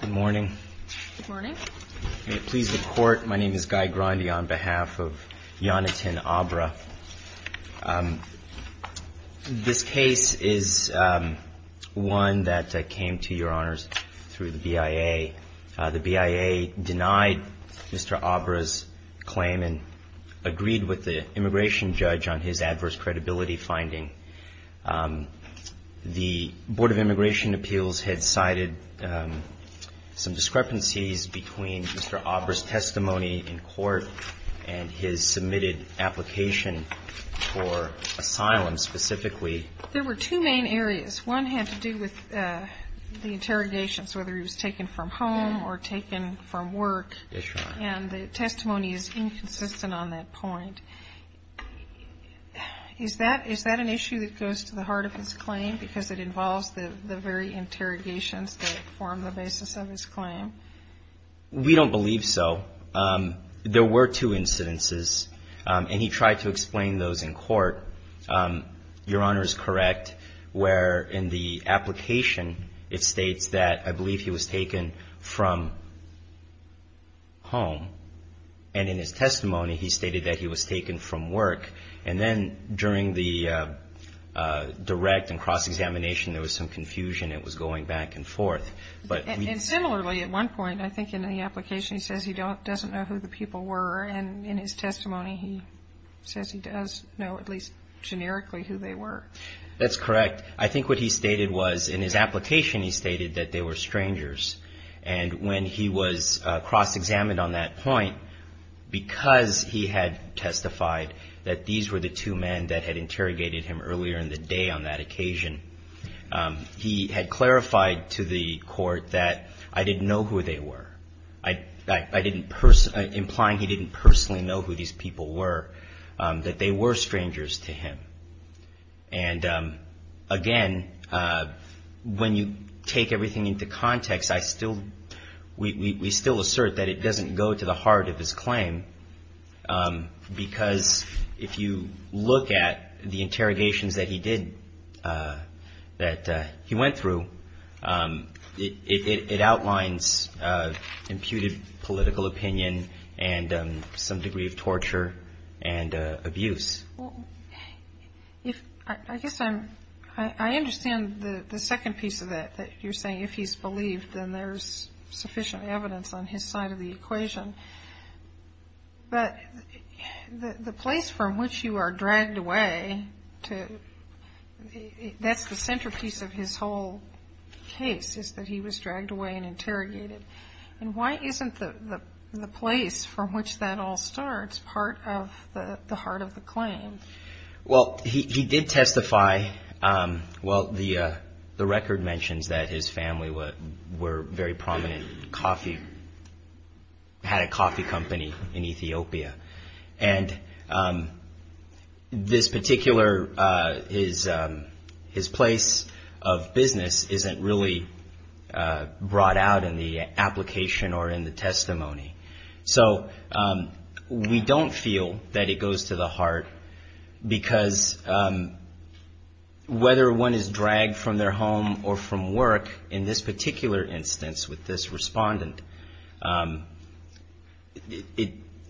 Good morning. May it please the Court, my name is Guy Grandy on behalf of Yonatan ABRHA. This case is one that came to Your Honors through the BIA. The BIA denied Mr. ABRHA's claim and agreed with the immigration judge on his adverse credibility finding. The Board of Immigration Appeals had cited some discrepancies between Mr. ABRHA's testimony in court and his submitted application for asylum specifically. MS. GONZALES There were two main areas. One had to do with the interrogations, whether he was taken from home or taken from work. MR. ABRHA Yes, Your Honor. MS. GONZALES And the testimony is inconsistent on that point. Is that an issue that goes to the heart of his claim because it involves the very interrogations that form the basis of his claim? MR. ABRHA We don't believe so. There were two incidences, and he tried to explain those in court. Your Honor is correct where in the application it states that I believe he was taken from home. And in his testimony, he stated that he was taken from work. And then during the direct and cross-examination, there was some confusion. It was going back and forth. MS. GONZALES And similarly, at one point, I think in the application, he says he doesn't know who the people were. And in his testimony, he says he does know at least generically who they were. MR. ABRHA That's correct. I think what he stated was in his application, he stated that they were strangers. And when he was cross-examined on that point, because he had testified that these were the two men that had interrogated him earlier in the day on that occasion, he had clarified to the court that I didn't know who they were, implying he didn't personally know who these people were, that they were strangers to him. And again, when you take everything into context, we still assert that it doesn't go to the heart of his claim, because if you look at the interrogations that he did, that he went through, it outlines imputed political opinion and some degree of torture and abuse. MS. GONZALES Well, I guess I understand the second piece of that, that you're saying if he's believed, then there's sufficient evidence on his side of the equation. But the place from which you are dragged away, that's the centerpiece of his whole case, is that he was dragged away and interrogated. And why isn't the place from which that all starts part of the heart of the claim? MR. WANG Well, he did testify. Well, the record mentions that his family were very prominent coffee, had a coffee company in Ethiopia. And this particular, his place of business isn't really brought out in the application or in the testimony. So we don't feel that it goes to the heart, because whether one is dragged from their home or from work, in this particular instance with this respondent,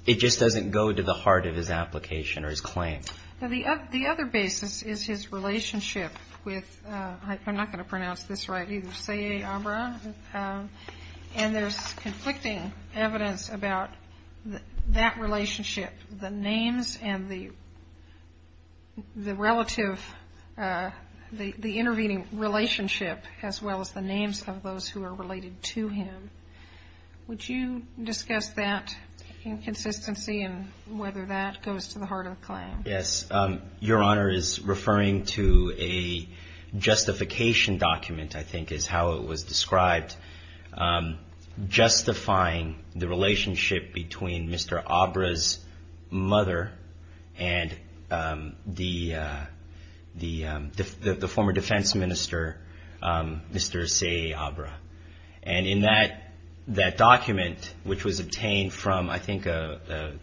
it just doesn't go to the heart of his application or his claim. MS. GONZALES The other basis is his relationship with, I'm not going to pronounce this right, and there's conflicting evidence about that relationship, the names and the relative, the intervening relationship, as well as the names of those who are related to him. Would you discuss that inconsistency and whether that goes to the heart of the claim? MR. WANG Yes. Your Honor is referring to a justification document, I think is how it was described, justifying the relationship between Mr. Abra's mother and the former defense minister, Mr. Seye Abra. And in that document, which was obtained from, I think, a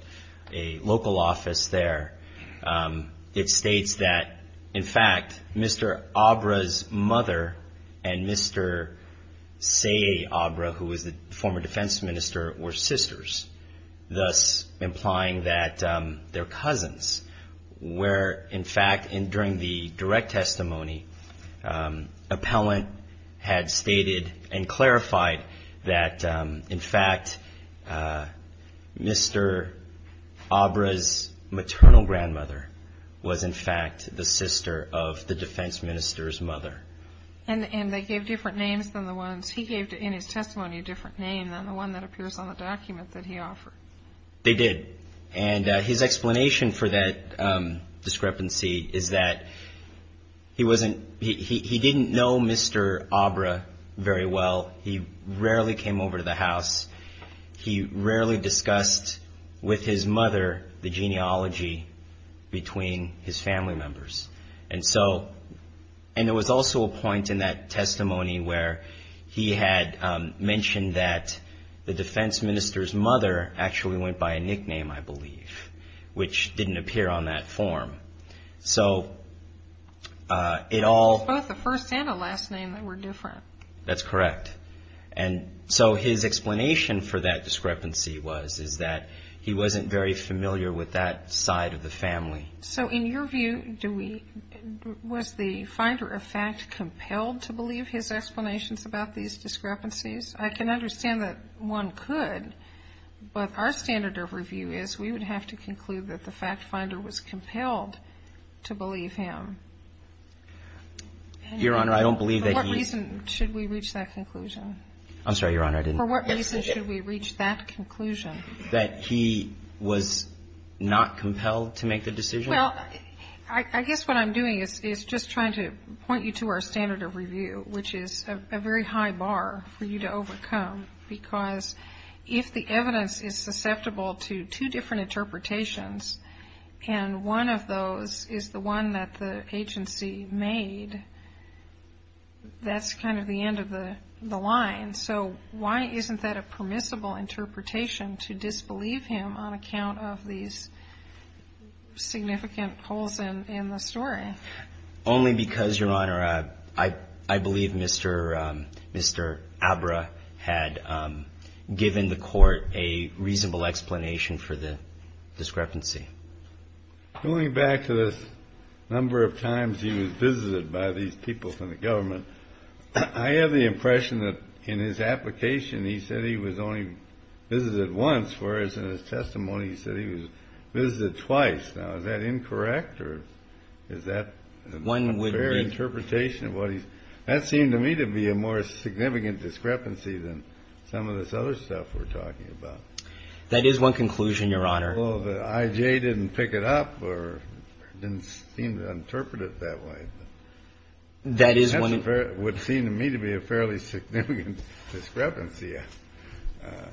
local office there, it states that, in fact, Mr. Abra's mother and Mr. Seye Abra, who was the former defense minister, were sisters, thus implying that they're cousins, where, in fact, during the direct testimony, appellant had stated and clarified that, in fact, Mr. Abra's maternal grandmother was, in fact, the sister of the defense minister's mother. MS. GONZALES And they gave different names than the ones he gave in his testimony, a different name than the one that appears on the document that he offered. MR. WANG They did. And his explanation for that discrepancy is that he wasn't, he didn't know Mr. Abra very well. He rarely came over to the house. He rarely discussed with his mother the genealogy between his family members. And so, and there was also a point in that testimony where he had mentioned that the defense minister's mother actually went by a nickname, I believe, which didn't appear on that form. So, it all... MS. GONZALES It was both a first and a last name that were different. MR. WANG That's correct. And so, his explanation for that discrepancy was, is that he wasn't very familiar with that side of the family. MS. GONZALES So, in your view, do we, was the finder of fact compelled to believe his explanations about these discrepancies? I can understand that one could, but our standard of review is we would have to conclude that the fact finder was compelled to believe him. MR. WANG Your Honor, I don't believe that he... MS. GONZALES For what reason should we reach that conclusion? MR. WANG I'm sorry, Your Honor, I didn't... MS. GONZALES For what reason should we reach that conclusion? MR. WANG That he was not compelled to make the decision? MS. GONZALES Well, I guess what I'm doing is just trying to point you to our standard of review, which is a very high bar for you to overcome, because if the evidence is susceptible to two different interpretations, and one of those is the one that the agency made, that's kind of the end of the line. So, why isn't that a permissible interpretation to disbelieve him on account of these significant holes in the story? MR. WANG Only because, Your Honor, I believe Mr. Abra had given the Court a reasonable explanation for the discrepancy. CHIEF JUSTICE KENNEDY Going back to the number of times he was visited by these people from the government, I have the impression that in his application he said he was only visited once, whereas in his testimony he said he was visited twice. Now, is that incorrect, or is that... That seemed to me to be a more significant discrepancy than some of this other stuff we're talking about. MR. WANG That is one conclusion, Your Honor. CHIEF JUSTICE KENNEDY Well, the IJ didn't pick it up or didn't seem to interpret it that way. MR. WANG That is one... CHIEF JUSTICE KENNEDY That would seem to me to be a fairly significant discrepancy. MR. WANG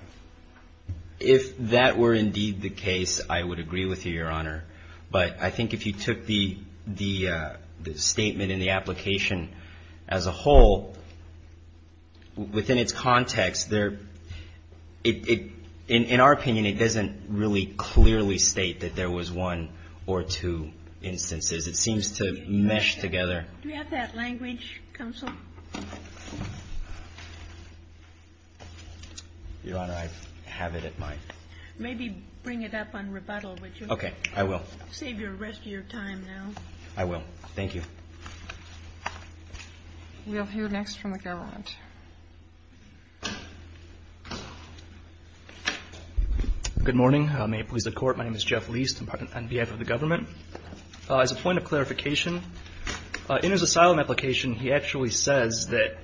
If that were indeed the case, I would agree with you, Your Honor. But I think if you took the statement in the application as a whole, within its context, in our opinion, it doesn't really clearly state that there was one or two instances. It seems to mesh together. MS. MOSS Do you have that language, Counsel? MR. WANG Your Honor, I have it at my... MS. MOSS Maybe bring it up on rebuttal, would you? MR. WANG Okay. I will. MS. MOSS Save the rest of your time now. MR. WANG I will. Thank you. MS. MOSS We'll hear next from the government. MR. LEIST Good morning. May it please the Court, my name is Jeff Leist on behalf of the government. As a point of clarification, in his asylum application, he actually says that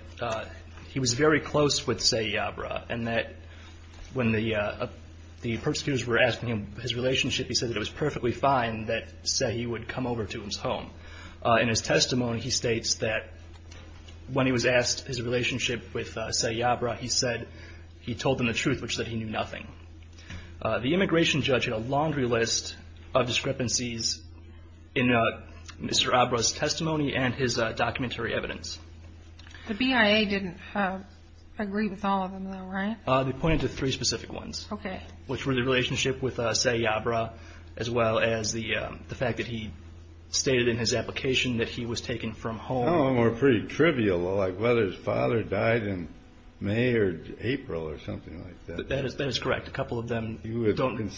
he was very close with Sayyabra and that when the persecutors were asking him his relationship, he said that it was perfectly fine that Sayyabra would come over to his home. In his testimony, he states that when he was asked his relationship with Sayyabra, he said he told them the truth, which said he knew nothing. The immigration judge had a laundry list of discrepancies in Mr. Abra's testimony and his documentary evidence. MS. MOSS The BIA didn't agree with all of them, though, right? MR. LEIST They pointed to three specific ones. MS. MOSS Okay. MR. LEIST Which were the relationship with Sayyabra, as well as the fact that he stated in his application that he was taken from home. MR. ABRAAMS I don't know. They were pretty trivial, like whether his father died in May or April or something like that. MR. LEIST That is correct. A couple of them don't go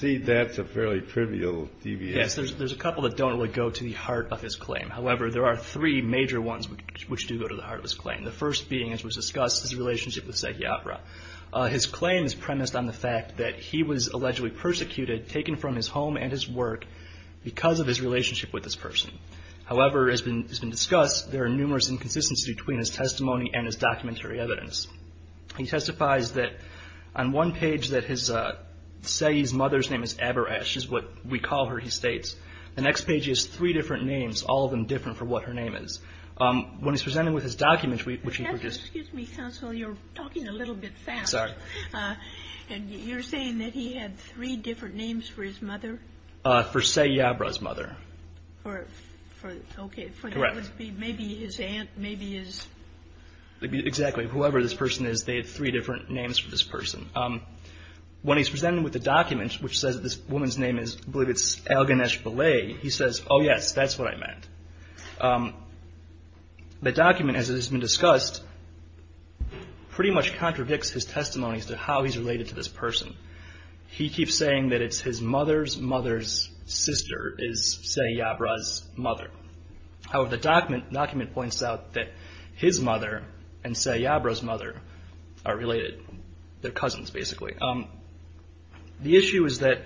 to the heart of his claim. However, there are three major ones which do go to the heart of his claim. The first being, his relationship with Sayyabra. His claim is premised on the fact that he was allegedly persecuted, taken from his home and his work because of his relationship with this person. However, as has been discussed, there are numerous inconsistencies between his testimony and his documentary evidence. He testifies that on one page that Sayyabra's mother's name is Abraash, is what we call her, he states. The next page has three different names, all of them different for what her name is. When he's presented with his document, which he produced. MS. MADDOX Excuse me, counsel, you're talking a little bit fast. MS. MADDOX And you're saying that he had three different names for his mother? MR. ABRAAMS For Sayyabra's mother. MS. MADDOX For, okay. MR. ABRAAMS Correct. MS. MADDOX Maybe his aunt, maybe his... MR. ABRAAMS Exactly. Whoever this person is, they have three different names for this person. When he's presented with the document, which says this woman's name is, I believe it's Alganesh Balay, he says, oh yes, that's what I meant. The document, as it has been discussed, pretty much contradicts his testimony as to how he's related to this person. He keeps saying that it's his mother's mother's sister is Sayyabra's mother. However, the document points out that his mother and Sayyabra's mother are related. They're cousins, basically. The issue is that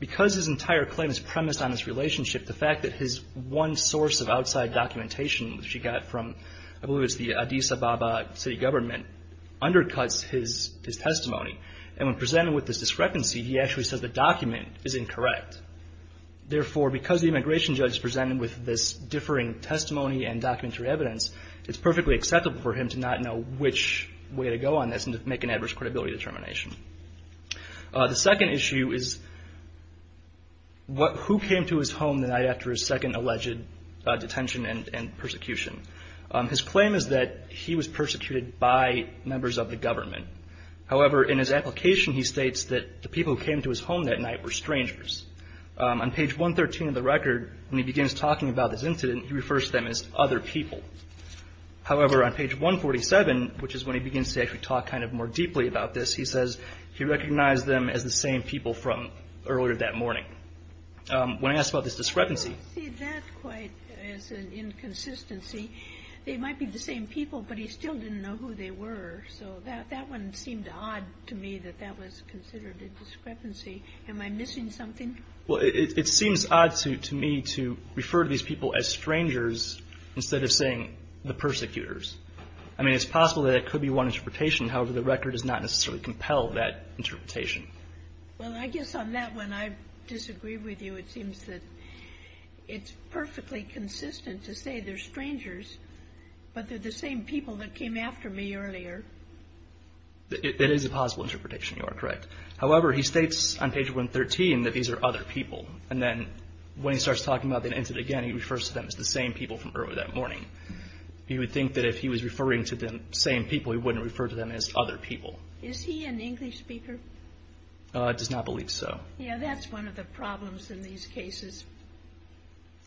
because his entire claim is premised on his one source of outside documentation, which he got from, I believe it's the Addis Ababa city government, undercuts his testimony. When presented with this discrepancy, he actually says the document is incorrect. Therefore, because the immigration judge is presented with this differing testimony and documentary evidence, it's perfectly acceptable for him to not know which way to go on this and to make an adverse credibility determination. The second issue is who came to his home the night after his second alleged detention and persecution. His claim is that he was persecuted by members of the government. However, in his application, he states that the people who came to his home that night were strangers. On page 113 of the record, when he begins talking about this incident, he refers to them as other people. However, on page 147, which is when he begins to actually talk more deeply about this, he recognized them as the same people from earlier that morning. When I asked about this discrepancy... I don't see that quite as an inconsistency. They might be the same people, but he still didn't know who they were. So that one seemed odd to me that that was considered a discrepancy. Am I missing something? Well, it seems odd to me to refer to these people as strangers instead of saying the persecutors. I mean, it's possible that that could be one interpretation. However, the record does not necessarily compel that interpretation. Well, I guess on that one, I disagree with you. It seems that it's perfectly consistent to say they're strangers, but they're the same people that came after me earlier. It is a possible interpretation. You are correct. However, he states on page 113 that these are other people. And then when he starts talking about the incident again, he refers to them as the same people from earlier that morning. He would think that if he was referring to same people, he wouldn't refer to them as other people. Is he an English speaker? I do not believe so. Yeah, that's one of the problems in these cases.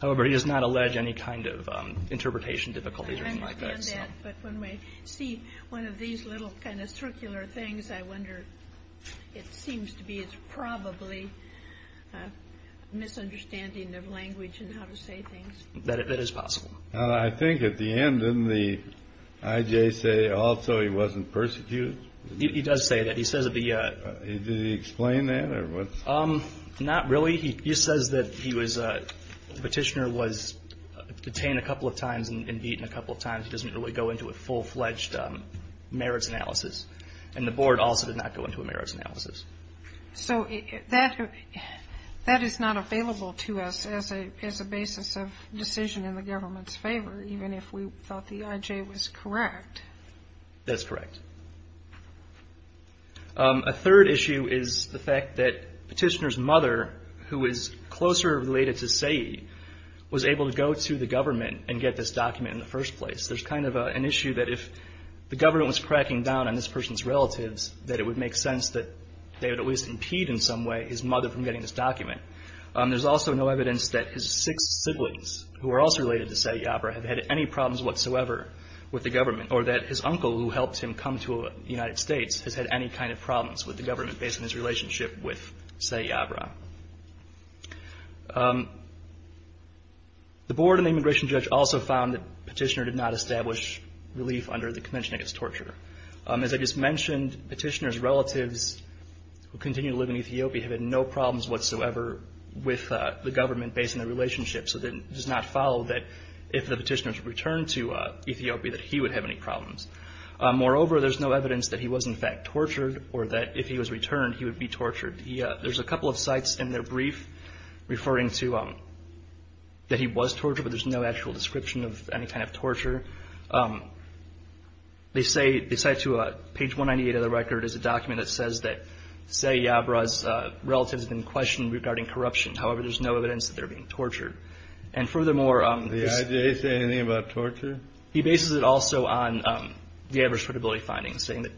However, he does not allege any kind of interpretation difficulties or anything like that. I understand that. But when we see one of these little kind of circular things, I wonder, it seems to be it's probably a misunderstanding of language and how to say things. That is possible. And I think at the end, didn't the IJ say also he wasn't persecuted? He does say that. He says that the... Did he explain that? Not really. He says that the petitioner was detained a couple of times and beaten a couple of times. He doesn't really go into a full-fledged merits analysis. And the board also did not go into a merits analysis. So that is not available to us as a basis of decision in the government's favor, even if we thought the IJ was correct. That's correct. A third issue is the fact that petitioner's mother, who is closer related to Sayy, was able to go to the government and get this document in the first place. There's kind of an issue that if the government was cracking down on this person's relatives, that it would make sense that they would at least impede in some way his mother from getting this document. There's also no evidence that his six siblings, who are also related to Sayy Yabra, have had any problems whatsoever with the government, or that his uncle who helped him come to the United States has had any kind of problems with the government based on his relationship with Sayy Yabra. The board and the immigration judge also found that petitioner did not establish relief under the Convention Against Torture. As I just mentioned, petitioner's relatives who continue to live in Ethiopia have had no problems whatsoever with the government based on their relationship. So it does not follow that if the petitioner's returned to Ethiopia, that he would have any problems. Moreover, there's no evidence that he was in fact tortured, or that if he was returned, he would be tortured. There's a couple of sites in their brief referring to that he was tortured, but there's no actual description of any kind of torture. They cite to page 198 of the record is a document that says that Sayy Yabra's relatives have been questioned regarding corruption. However, there's no evidence that they're being tortured. And furthermore... Did the IJA say anything about torture? He bases it also on the average credibility findings, saying that...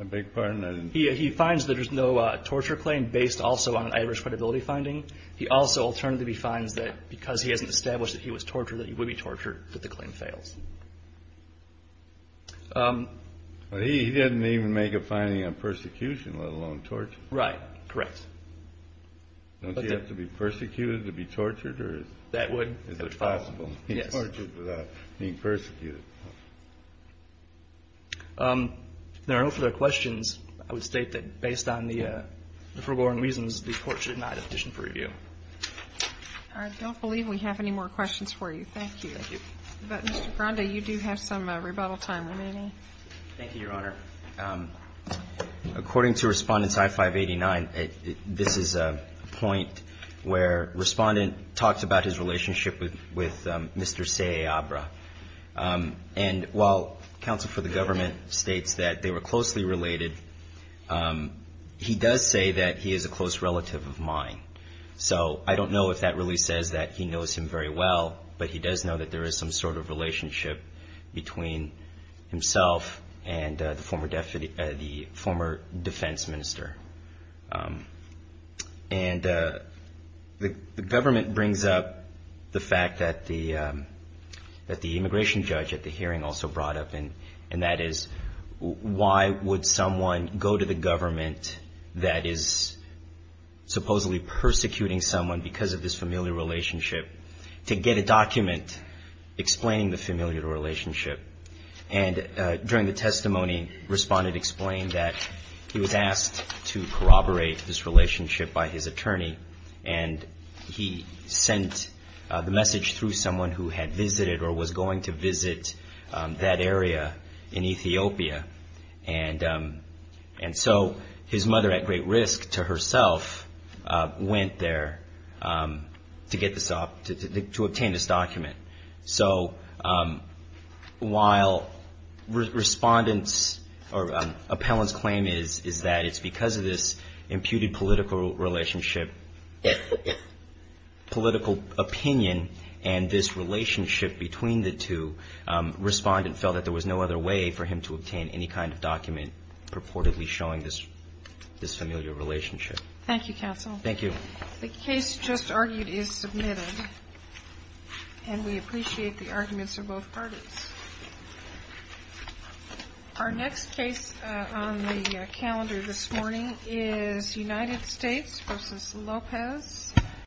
I beg your pardon? He finds that there's no torture claim based also on an average credibility finding. He also alternatively finds that because he hasn't established that he was tortured, that he would be tortured, that the claim fails. But he didn't even make a finding on persecution, let alone torture. Right. Correct. Don't you have to be persecuted to be tortured? That would. Is it possible to be tortured without being persecuted? There are no further questions. I would state that based on the forewarned reasons, the court should deny the petition for review. I don't believe we have any more questions for you. Thank you. Thank you. But Mr. Grande, you do have some rebuttal time remaining. Thank you, Your Honor. According to Respondents I-589, this is a point where Respondent talked about his relationship with Mr. Sayy Yabra. And while counsel for the government states that they were closely related, he does say that he is a close relative of mine. So I don't know if that really says that he knows him very well, but he does know that there is some sort of relationship between himself and the former defense minister. And the government brings up the fact that the immigration judge at the hearing also brought up, and that is, why would someone go to the government that is supposedly persecuting someone because of this familial relationship to get a document explaining the familial relationship? And during the testimony, Respondent explained that he was asked to corroborate this relationship by his attorney, and he sent the message through someone who had visited or was going to visit that area in Ethiopia. And so his mother, at great risk to herself, went there to obtain this document. So while Respondent's or Appellant's claim is that it's because of this imputed political relationship, this imputed political opinion and this relationship between the two, Respondent felt that there was no other way for him to obtain any kind of document purportedly showing this familial relationship. Thank you, counsel. Thank you. The case just argued is submitted, and we appreciate the arguments of both parties. Our next case on the calendar this morning is United States v. Lopez.